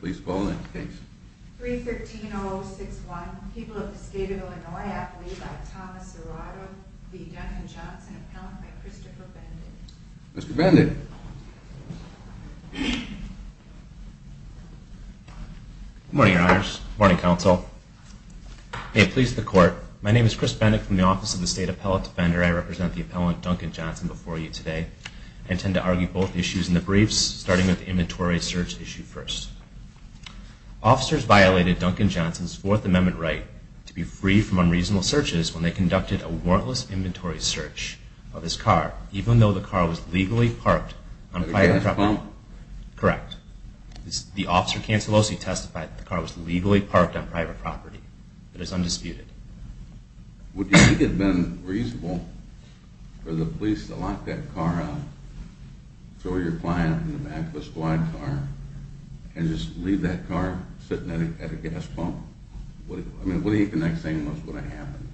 Please call the next case. 313-061. People of the State of Illinois. Appellee by Thomas Serrato. The Duncan Johnson Appellant by Christopher Bendick. Mr. Bendick. Good morning, Your Honors. Good morning, Counsel. May it please the Court. My name is Chris Bendick from the Office of the State Appellate Defender. I represent the Appellant Duncan Johnson before you today. I intend to argue both issues in the briefs, starting with the inventory search issue first. Officers violated Duncan Johnson's Fourth Amendment right to be free from unreasonable searches when they conducted a warrantless inventory search of his car, even though the car was legally parked on private property. Correct. The officer testified that the car was legally parked on private property. It is undisputed. Would you think it would have been reasonable for the police to lock that car up, throw your client in the back of a squad car, and just leave that car sitting at a gas pump? I mean, what do you think the next thing was going to happen?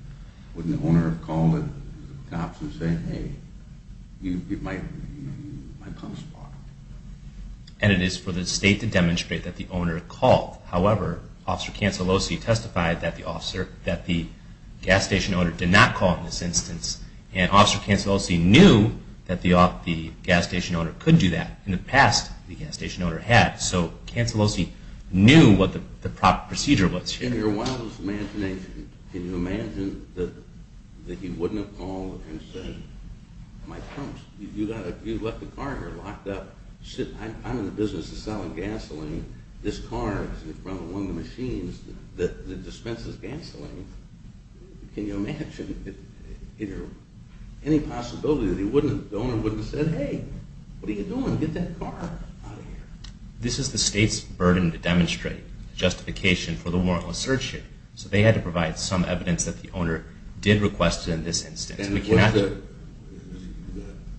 Wouldn't the owner have called the cops and said, hey, my pump's parked? And it is for the State to demonstrate that the owner called. However, Officer Cancellosi testified that the gas station owner did not call in this instance. And Officer Cancellosi knew that the gas station owner could do that. In the past, the gas station owner had. So Cancellosi knew what the proper procedure was. In your wildest imagination, can you imagine that he wouldn't have called and said, my pump's, you left the car here locked up. I'm in the business of selling gasoline. This car is in front of one of the machines that dispenses gasoline. Can you imagine any possibility that the owner wouldn't have said, hey, what are you doing? Get that car out of here. This is the State's burden to demonstrate justification for the warrantless search here. So they had to provide some evidence that the owner did request it in this instance. And was there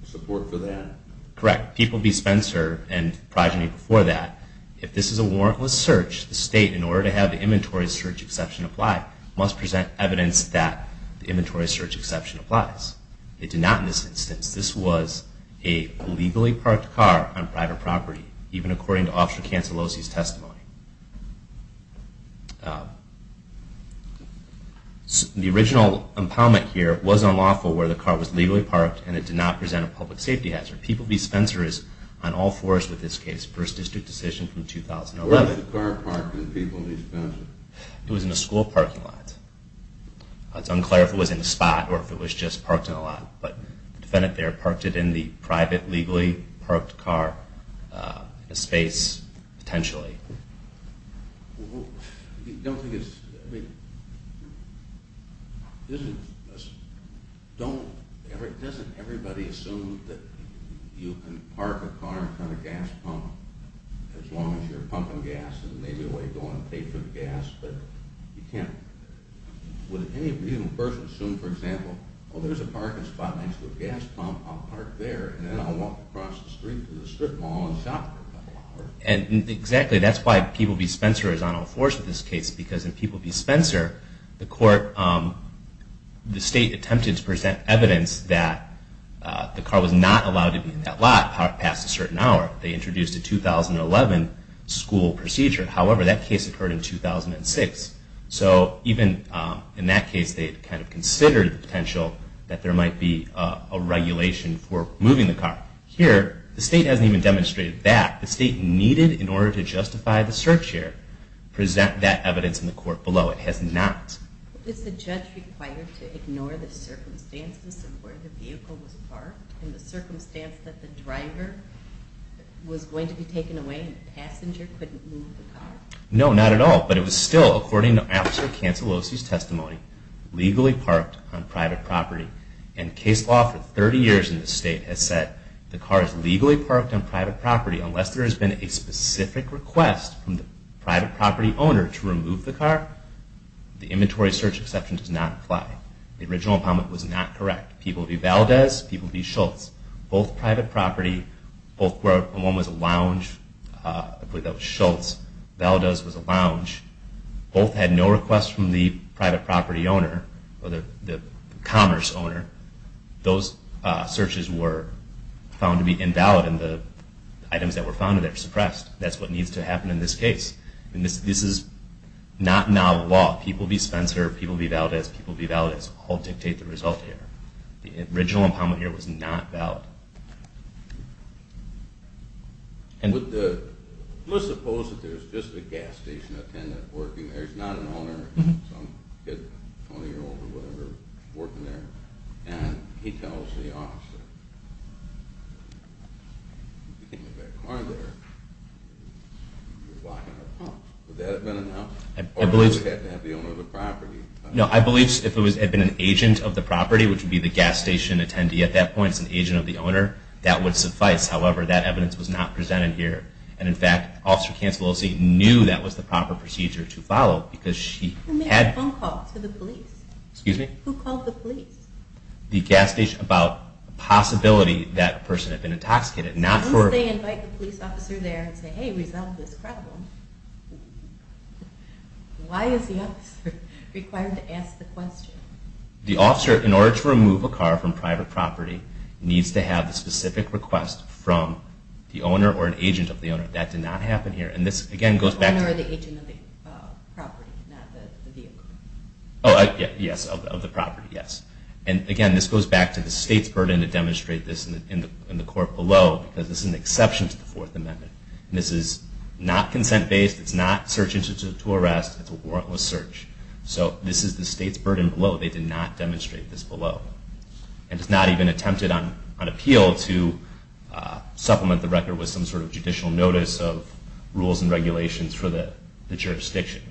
support for that? Correct. People B. Spencer and progeny before that, if this is a warrantless search, the State, in order to have the inventory search exception apply, must present evidence that the inventory search exception applies. It did not in this instance. This was a legally parked car on private property, even according to Officer Cancellosi's testimony. The original impoundment here was unlawful where the car was legally parked and it did not present a public safety hazard. People B. Spencer is on all fours with this case. First district decision from 2011. Where was the car parked in People B. Spencer? It was in a school parking lot. It's unclear if it was in a spot or if it was just parked in a lot. But the defendant there parked it in the private legally parked car in a space potentially. I don't think it's – doesn't everybody assume that you can park a car in front of a gas pump as long as you're pumping gas and there may be a way to go and pay for the gas, but you can't – would any person assume, for example, oh, there's a parking spot next to a gas pump, I'll park there and then I'll walk across the street to the strip mall and shop for a couple of hours? And exactly that's why People B. Spencer is on all fours with this case because in People B. Spencer, the court – the state attempted to present evidence that the car was not allowed to be in that lot past a certain hour. They introduced a 2011 school procedure. However, that case occurred in 2006. So even in that case, they kind of considered the potential that there might be a regulation for moving the car. Here, the state hasn't even demonstrated that. The state needed, in order to justify the search here, present that evidence in the court below. It has not. Is the judge required to ignore the circumstances of where the vehicle was parked and the circumstance that the driver was going to be taken away and the passenger couldn't move the car? No, not at all. But it was still, according to Officer Cancellosi's testimony, legally parked on private property. And case law for 30 years in this state has said the car is legally parked on private property unless there has been a specific request from the private property owner to remove the car. The inventory search exception does not apply. The original comment was not correct. People be Valdez, people be Schultz. Both private property. One was a lounge. I believe that was Schultz. Valdez was a lounge. Both had no request from the private property owner or the commerce owner. Those searches were found to be invalid and the items that were found there were suppressed. That's what needs to happen in this case. This is not novel law. People be Spencer, people be Valdez, people be Valdez. All dictate the result here. The original comment here was not valid. Let's suppose that there's just a gas station attendant working there. There's not an owner, some kid, 20 year old or whatever, working there. And he tells the officer, if you can't move that car there, you're blocking our pumps. Would that have been enough? Or would we have to have the owner of the property? No, I believe if it had been an agent of the property, which would be the gas station attendee at that point, it's an agent of the owner, that would suffice. However, that evidence was not presented here. And in fact, Officer Cancellosi knew that was the proper procedure to follow because she had... Who made the phone call to the police? Excuse me? Who called the police? The gas station, about the possibility that person had been intoxicated. Since they invite the police officer there and say, hey, resolve this problem, why is the officer required to ask the question? The officer, in order to remove a car from private property, needs to have a specific request from the owner or an agent of the owner. That did not happen here. And this again goes back to... The owner or the agent of the property, not the vehicle. Yes, of the property, yes. And again, this goes back to the state's burden to demonstrate this in the court below because this is an exception to the Fourth Amendment. This is not consent-based. It's not search-intuitive to arrest. It's a warrantless search. So this is the state's burden below. They did not demonstrate this below. And it's not even attempted on appeal to supplement the record with some sort of judicial notice of rules and regulations for the jurisdiction.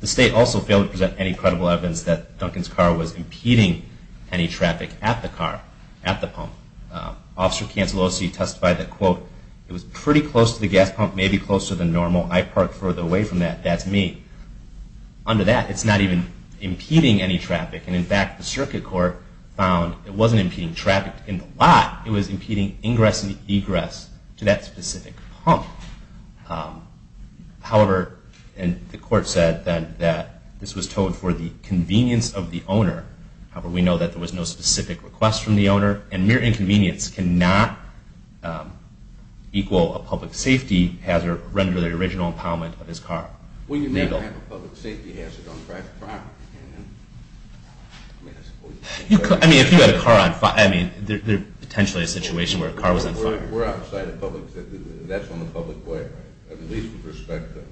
The state also failed to present any credible evidence that Duncan's car was impeding any traffic at the car, at the pump. Officer Cansalosi testified that, quote, it was pretty close to the gas pump, maybe closer than normal. I parked further away from that. That's me. Under that, it's not even impeding any traffic. And in fact, the circuit court found it wasn't impeding traffic in the lot. It was impeding ingress and egress to that specific pump. However, the court said that this was towed for the convenience of the owner. However, we know that there was no specific request from the owner. And mere inconvenience cannot equal a public safety hazard under the original impoundment of his car. Well, you never have a public safety hazard on a private property. I mean, if you had a car on fire, I mean, there's potentially a situation where a car was on fire. We're outside of public safety. That's on the public way, right? At least with respect to...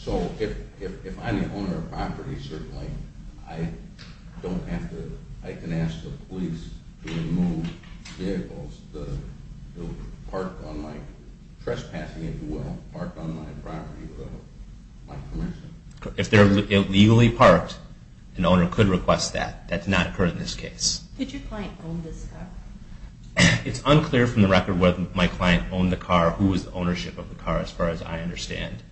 So if I'm the owner of a property, certainly, I don't have to... I can ask the police to remove vehicles that are parked on my... trespassing into my property without my permission. If they're illegally parked, an owner could request that. That's not occurred in this case. Did your client own this car? It's unclear from the record whether my client owned the car, who was the ownership of the car, as far as I understand.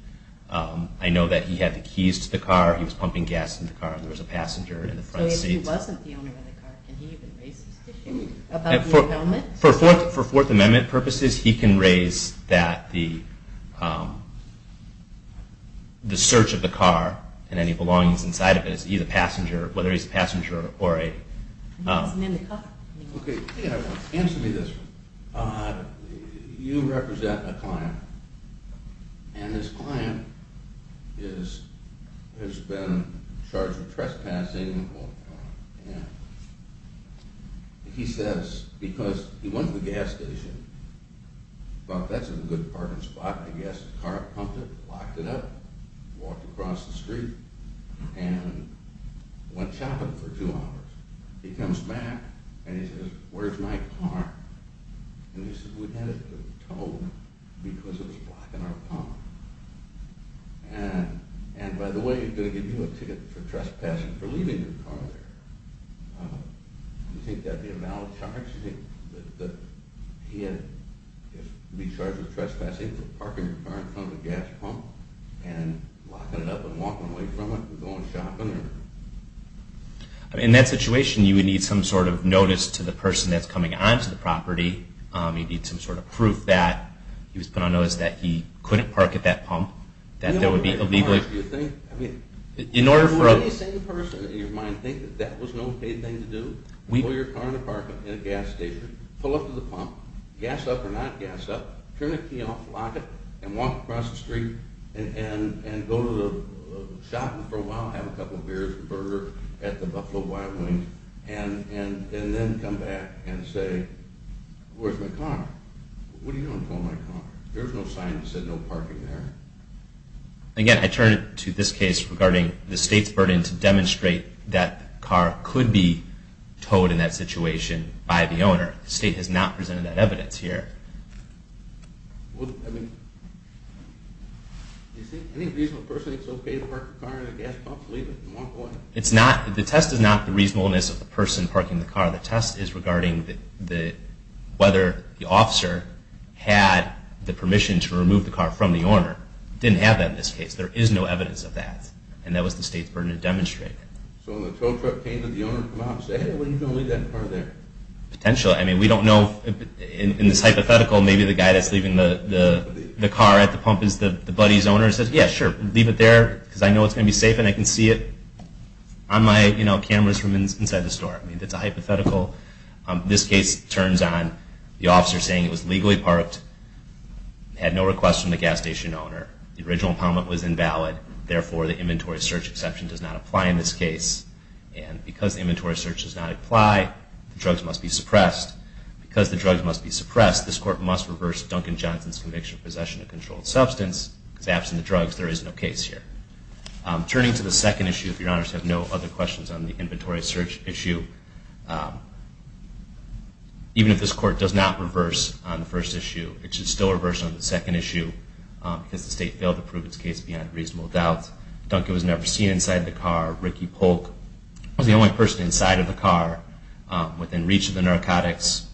I know that he had the keys to the car. He was pumping gas into the car. There was a passenger in the front seat. So if he wasn't the owner of the car, can he even raise this issue about the impoundment? For Fourth Amendment purposes, he can raise that the search of the car and any belongings inside of it is either passenger, whether he's a passenger or a... Okay, answer me this one. You represent a client, and this client has been charged with trespassing. He says, because he went to the gas station, thought that's a good parking spot. The gas car pumped it, locked it up, walked across the street, and went chopping for two hours. He comes back, and he says, where's my car? And he says, we had it towed because it was blocking our pump. And by the way, he's going to give you a ticket for trespassing for leaving your car there. Do you think that would be a valid charge? That he had to be charged with trespassing for parking your car in front of a gas pump and locking it up and walking away from it and going shopping? In that situation, you would need some sort of notice to the person that's coming onto the property. You'd need some sort of proof that he was put on notice that he couldn't park at that pump, that that would be illegal. In order for... Would any sane person in your mind think that that was an okay thing to do? Pull your car into parking in a gas station, pull up to the pump, gas up or not gas up, turn the key off, lock it, and walk across the street, and go shopping for a while, have a couple beers and a burger at the Buffalo Wild Wings, and then come back and say, where's my car? What are you doing with my car? There's no sign that said no parking there. Again, I turn it to this case regarding the state's burden to demonstrate that the car could be towed in that situation by the owner. The state has not presented that evidence here. Well, I mean... Do you think any reasonable person thinks it's okay to park a car in a gas pump, leave it, and walk away? The test is not the reasonableness of the person parking the car. The test is regarding whether the officer had the permission to remove the car from the owner. Didn't have that in this case. There is no evidence of that, and that was the state's burden to demonstrate. So when the tow truck came, did the owner come out and say, hey, when are you going to leave that car there? Potentially. I mean, we don't know. In this hypothetical, maybe the guy that's leaving the car at the pump is the buddy's owner, and says, yeah, sure, leave it there, because I know it's going to be safe, and I can see it on my cameras from inside the store. That's a hypothetical. This case turns on the officer saying it was legally parked, had no request from the gas station owner, the original impoundment was invalid, therefore the inventory search exception does not apply in this case. And because the inventory search does not apply, the drugs must be suppressed. Because the drugs must be suppressed, this court must reverse Duncan Johnson's conviction of possession of controlled substance, because absent the drugs, there is no case here. Turning to the second issue, if your honors have no other questions on the inventory search issue, even if this court does not reverse on the first issue, it should still reverse on the second issue, because the state failed to prove its case beyond reasonable doubt. Duncan was never seen inside the car. Ricky Polk was the only person inside of the car within reach of the narcotics.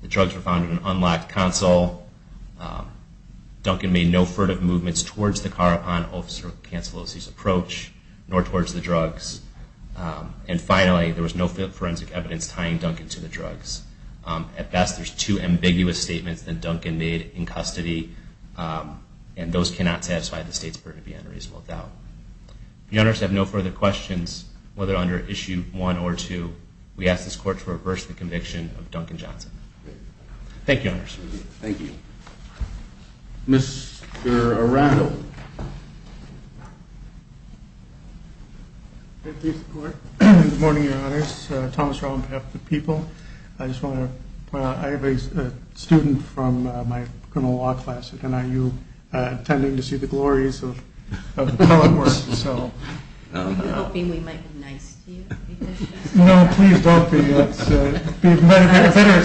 The drugs were found in an unlocked console. Duncan made no furtive movements towards the car upon Officer Cancellosi's approach, nor towards the drugs. And finally, there was no forensic evidence tying Duncan to the drugs. At best, there's two ambiguous statements that Duncan made in custody, and those cannot satisfy the state's burden beyond reasonable doubt. If your honors have no further questions, whether under issue one or two, we ask this court to reverse the conviction of Duncan Johnson. Thank you, your honors. Thank you. Mr. Arandel. Good morning, your honors. Thomas Rowland, behalf of the people. I just want to point out I have a student from my criminal law class at NIU attending to see the glories of the public works, so. Are you hoping we might be nice to you? No, please don't be. I'm just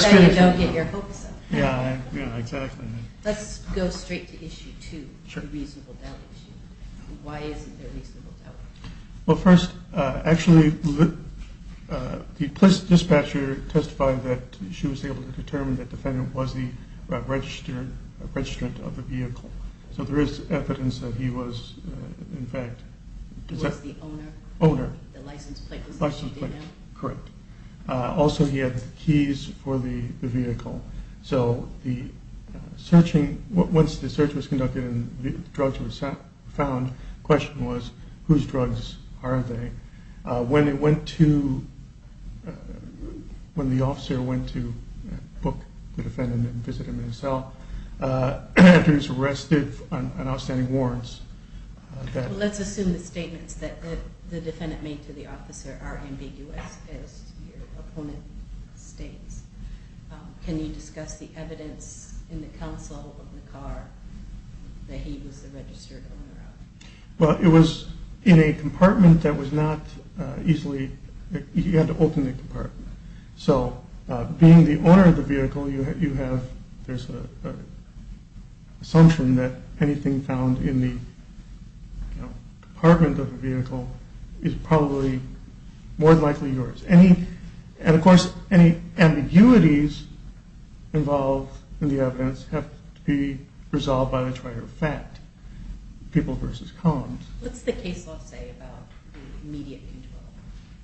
saying you don't get your hopes up. Yeah, yeah, exactly. Let's go straight to issue two, the reasonable doubt issue. Why isn't there reasonable doubt? Well, first, actually, the dispatcher testified that she was able to determine that the defendant was the registrant of the vehicle. So there is evidence that he was, in fact. He was the owner? Owner. The license plate was what she did have? License plate, correct. Also, he had the keys for the vehicle. So the searching, once the search was conducted and the drugs were found, the question was whose drugs are they? When the officer went to book the defendant and visit him in his cell, Andrews arrested on outstanding warrants. Let's assume the statements that the defendant made to the officer are ambiguous, as your opponent states. Can you discuss the evidence in the counsel of the car that he was the registered owner of? Well, it was in a compartment that was not easily open. You had to open the compartment. So being the owner of the vehicle, there's an assumption that anything found in the compartment of the vehicle is probably more than likely yours. And, of course, any ambiguities involved in the evidence have to be resolved by the trier of fact, people versus columns. What's the case law say about immediate control?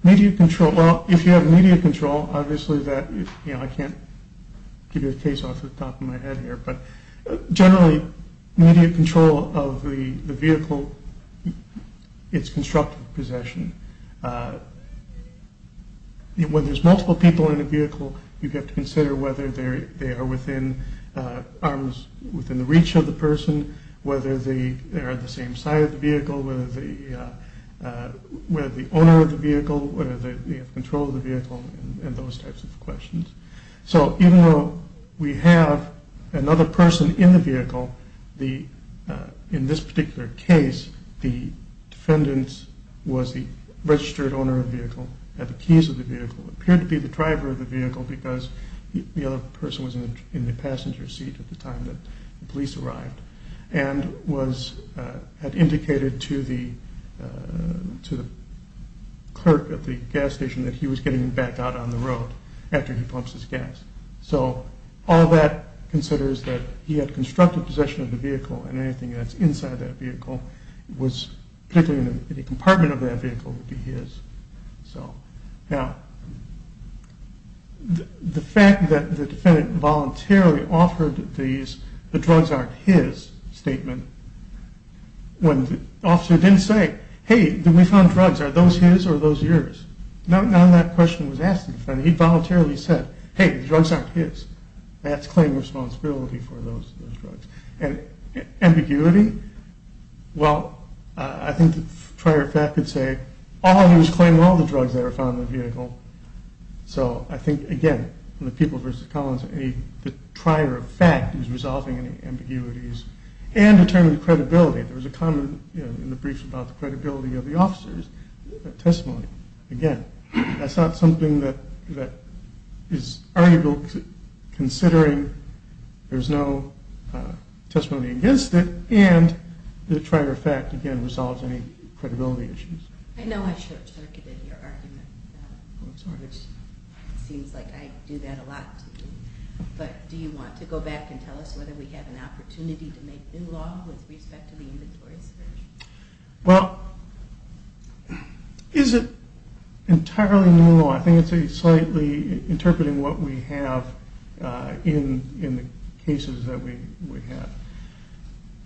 Immediate control. Well, if you have immediate control, obviously that is, you know, I can't give you a case law off the top of my head here, but generally immediate control of the vehicle, it's constructive possession. When there's multiple people in a vehicle, you have to consider whether they are within arms, within the reach of the person, whether they are on the same side of the vehicle, whether the owner of the vehicle, whether they have control of the vehicle, and those types of questions. So even though we have another person in the vehicle, in this particular case, the defendant was the registered owner of the vehicle, had the keys of the vehicle, appeared to be the driver of the vehicle because the other person was in the passenger seat at the time that the police arrived, and had indicated to the clerk at the gas station that he was getting back out on the road after he pumps his gas. So all that considers that he had constructive possession of the vehicle and anything that's inside that vehicle, particularly any compartment of that vehicle, would be his. Now, the fact that the defendant voluntarily offered the drugs aren't his statement, when the officer didn't say, hey, we found drugs, are those his or are those yours? None of that question was asked in front of him. He voluntarily said, hey, the drugs aren't his. That's claim responsibility for those drugs. Ambiguity? Well, I think the prior fact would say, he was claiming all the drugs that were found in the vehicle. So I think, again, the people versus Collins, the prior fact is resolving any ambiguities. And determined credibility. There was a comment in the briefs about the credibility of the officers' testimony. Again, that's not something that is arguable, considering there's no testimony against it, and the prior fact, again, resolves any credibility issues. I know I short-circuited your argument, which seems like I do that a lot to you. But do you want to go back and tell us whether we have an opportunity to make new law with respect to the inventories? Well, is it entirely new law? I think it's slightly interpreting what we have in the cases that we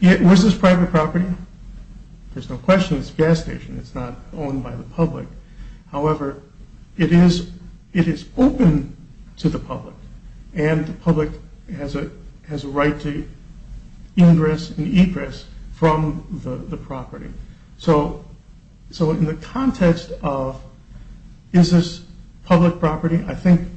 have. Was this private property? There's no question it's a gas station. It's not owned by the public. However, it is open to the public, and the public has a right to ingress and egress from the property. So in the context of is this public property, I think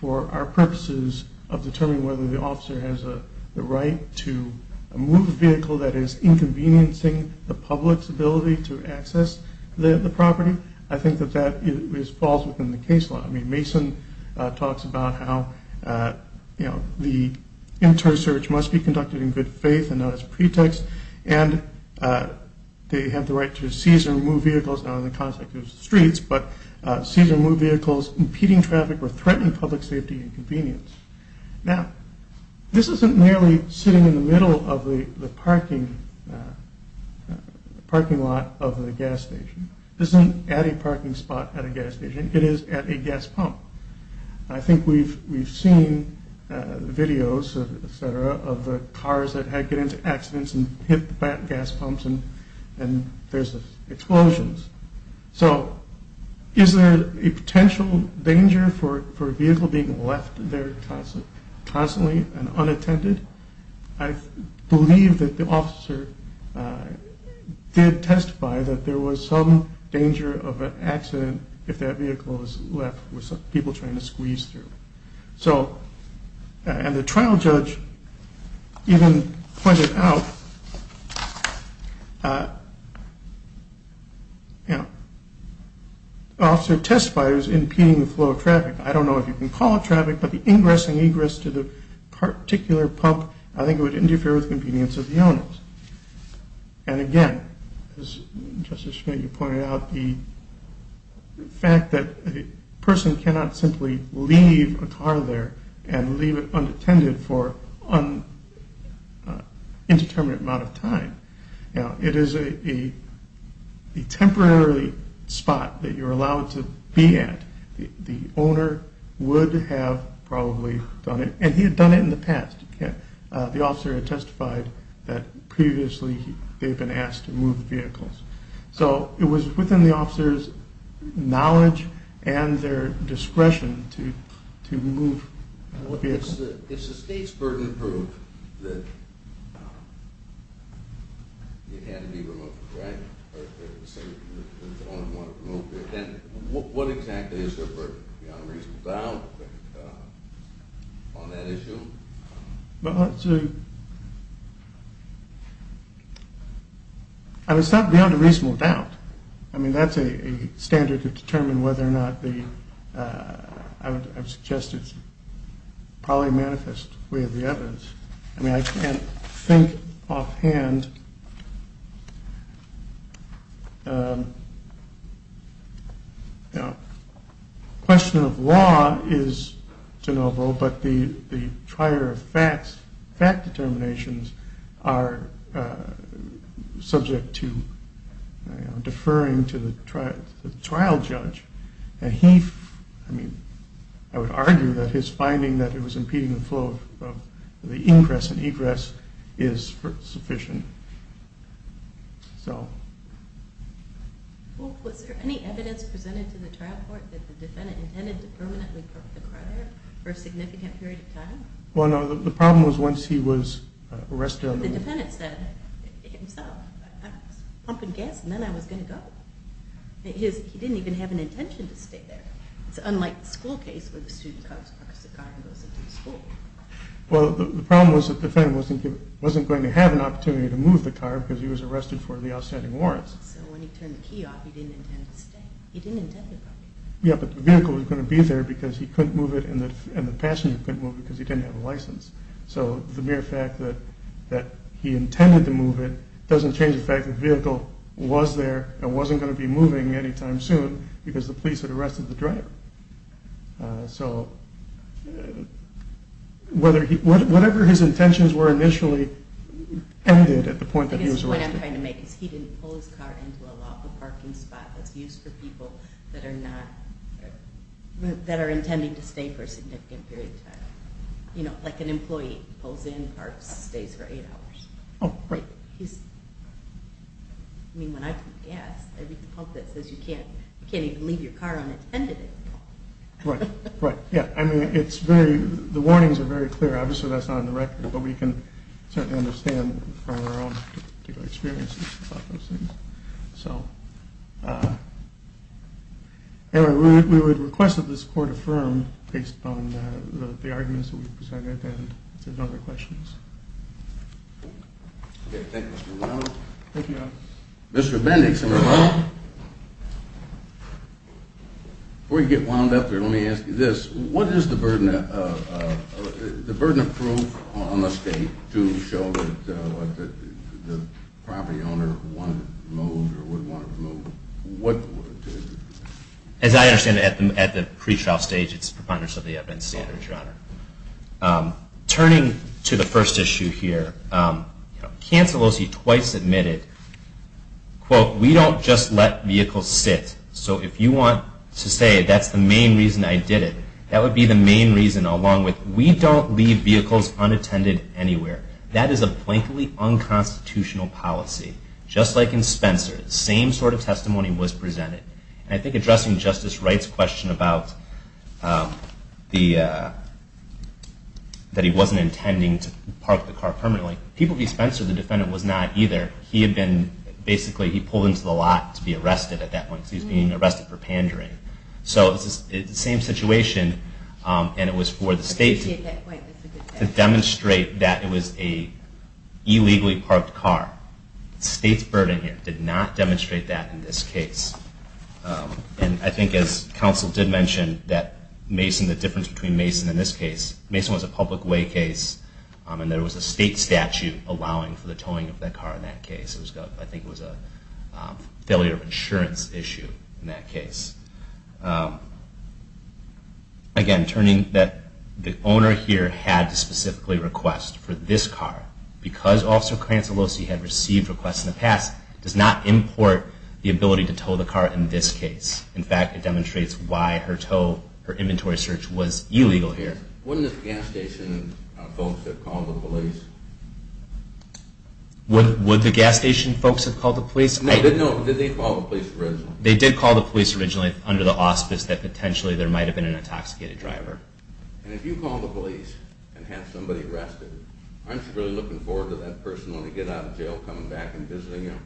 for our purposes of determining whether the officer has the right to move a vehicle that is inconveniencing the public's ability to access the property, I think that that falls within the case law. I mean, Mason talks about how, you know, the inter-search must be conducted in good faith and not as pretext, and they have the right to seize or move vehicles, not in the context of streets, but seize or move vehicles impeding traffic or threatening public safety and convenience. Now, this isn't merely sitting in the middle of the parking lot of the gas station. This isn't at a parking spot at a gas station. It is at a gas pump. I think we've seen videos, et cetera, of cars that get into accidents and hit the gas pumps, and there's explosions. So is there a potential danger for a vehicle being left there constantly and unattended? I believe that the officer did testify that there was some danger of an accident if that vehicle was left with people trying to squeeze through. And the trial judge even pointed out, you know, the officer testified it was impeding the flow of traffic. I don't know if you can call it traffic, but the ingress and egress to the particular pump, I think it would interfere with the convenience of the owners. And again, as Justice Schmidt, you pointed out, the fact that a person cannot simply leave a car there and leave it unattended for an indeterminate amount of time. Now, it is a temporary spot that you're allowed to be at. The owner would have probably done it, and he had done it in the past. The officer had testified that previously they've been asked to move vehicles. So it was within the officer's knowledge and their discretion to move the vehicle. Well, if the state's burden proved that you had to be removed, right, then what exactly is your burden beyond a reasonable doubt on that issue? Well, it's not beyond a reasonable doubt. I mean, that's a standard to determine whether or not the, I would suggest, it's probably a manifest way of the evidence. I mean, I can't think offhand. Now, question of law is de novo, but the trier of facts, fact determinations are subject to deferring to the trial judge. And he, I mean, I would argue that his finding that it was impeding the flow of the ingress and egress is sufficient. Well, was there any evidence presented to the trial court that the defendant intended to permanently park the car there for a significant period of time? Well, no, the problem was once he was arrested on the move. The defendant said it himself. I was pumping gas, and then I was going to go. He didn't even have an intention to stay there. It's unlike the school case where the student parks the car and goes into the school. Well, the problem was that the defendant wasn't going to have an opportunity to move the car because he was arrested for the outstanding warrants. So when he turned the key off, he didn't intend to stay. He didn't intend to go. Yeah, but the vehicle was going to be there because he couldn't move it, and the passenger couldn't move it because he didn't have a license. So the mere fact that he intended to move it doesn't change the fact that the vehicle was there and wasn't going to be moving any time soon because the police had arrested the driver. So whatever his intentions were initially ended at the point that he was arrested. The point I'm trying to make is he didn't pull his car into a lawful parking spot that's used for people that are intending to stay for a significant period of time. You know, like an employee pulls in, parks, stays for eight hours. Oh, right. I mean, when I put gas, I read the part that says you can't even leave your car unattended. Right, right. Yeah, I mean, the warnings are very clear. Obviously that's not on the record, but we can certainly understand from our own experiences about those things. So anyway, we would request that this court affirm based on the arguments that we've presented and if there's no other questions. Okay, thank you, Mr. Romano. Thank you, Your Honor. Mr. Bendix and Mr. Romano, before you get wound up here, let me ask you this. What is the burden of proof on the state to show that the property owner wanted to move or would want to move? As I understand it, at the pre-trial stage, it's preponderance of the evidence standard, Your Honor. Turning to the first issue here, Kansalosi twice admitted, quote, we don't just let vehicles sit. So if you want to say that's the main reason I did it, that would be the main reason along with we don't leave vehicles unattended anywhere. That is a blatantly unconstitutional policy. Just like in Spencer, the same sort of testimony was presented. I think addressing Justice Wright's question about that he wasn't intending to park the car permanently, people view Spencer, the defendant, was not either. He had been basically pulled into the lot to be arrested at that point. He was being arrested for pandering. So it's the same situation and it was for the state to demonstrate that it was a illegally parked car. The state's burden here did not demonstrate that in this case. And I think as counsel did mention that Mason, the difference between Mason and this case, Mason was a public way case and there was a state statute allowing for the towing of that car in that case. I think it was a failure of insurance issue in that case. Again, turning that the owner here had to specifically request for this car because Officer Cransolosi had received requests in the past, does not import the ability to tow the car in this case. In fact, it demonstrates why her tow, her inventory search was illegal here. Wouldn't the gas station folks have called the police? Would the gas station folks have called the police? No, did they call the police originally? They did call the police originally under the auspice that potentially there might have been an intoxicated driver. And if you call the police and have somebody arrested, aren't you really looking forward to that person when they get out of jail coming back and visiting you?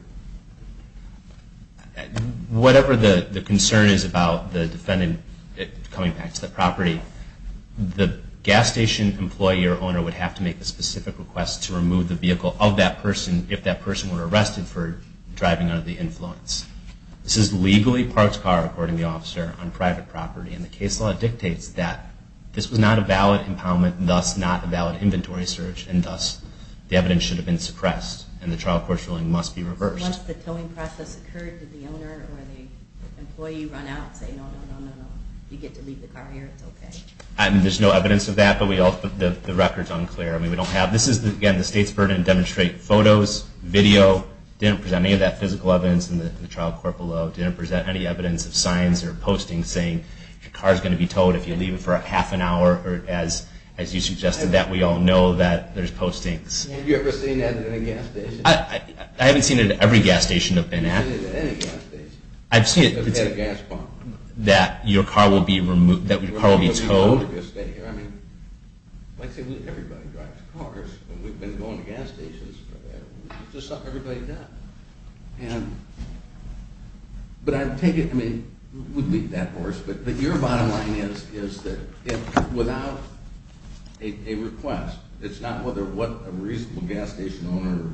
Whatever the concern is about the defendant coming back to the property, the gas station employee or owner would have to make a specific request to remove the vehicle of that person if that person were arrested for driving under the influence. This is legally parked car, according to the officer, on private property. And the case law dictates that this was not a valid impoundment, and thus not a valid inventory search, and thus the evidence should have been suppressed. And the trial court's ruling must be reversed. Once the towing process occurred, did the owner or the employee run out and say, no, no, no, no, you get to leave the car here, it's okay? There's no evidence of that, but the record's unclear. This is, again, the state's burden to demonstrate photos, video, didn't present any of that physical evidence in the trial court below, didn't present any evidence of signs or postings saying, your car's going to be towed if you leave it for half an hour, or as you suggested, that we all know that there's postings. Have you ever seen that at a gas station? I haven't seen it at every gas station I've been at. You haven't seen it at any gas station. I've seen it at a gas pump. That your car will be towed. I mean, like I say, everybody drives cars, and we've been going to gas stations. It's just something everybody does. But I take it, I mean, we'd leave that for us, but your bottom line is that without a request, it's not whether what a reasonable gas station owner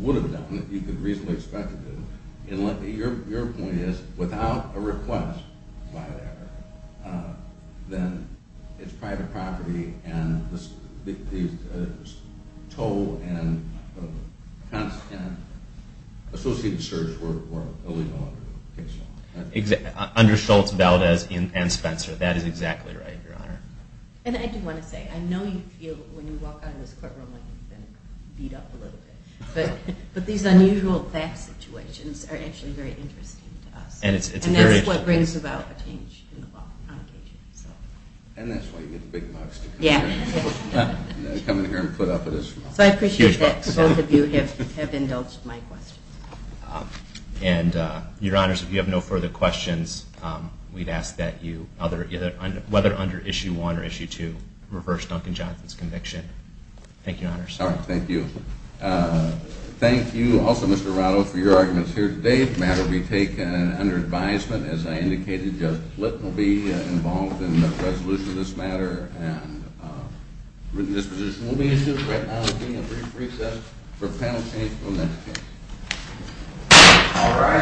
would have done if he could reasonably expect to do it. Your point is, without a request by that owner, then it's private property, and the toll and associated service were illegal under the case law. Under Schultz, Valdez, and Spencer. That is exactly right, Your Honor. And I do want to say, I know you feel when you walk out of this courtroom like you've been beat up a little bit, but these unusual theft situations are actually very interesting to us. And that's what brings about a change in the law. And that's why you get the big bucks to come in here and put up with us. So I appreciate that both of you have indulged my questions. And, Your Honors, if you have no further questions, we'd ask that you, whether under Issue 1 or Issue 2, reverse Duncan Johnson's conviction. Thank you, Your Honors. Thank you. Thank you also, Mr. Arado, for your arguments here today. This brief matter will be taken under advisement. As I indicated, Judge Flint will be involved in the resolution of this matter. And written disposition will be issued. Right now, there will be a brief recess for panel change from this case. All right.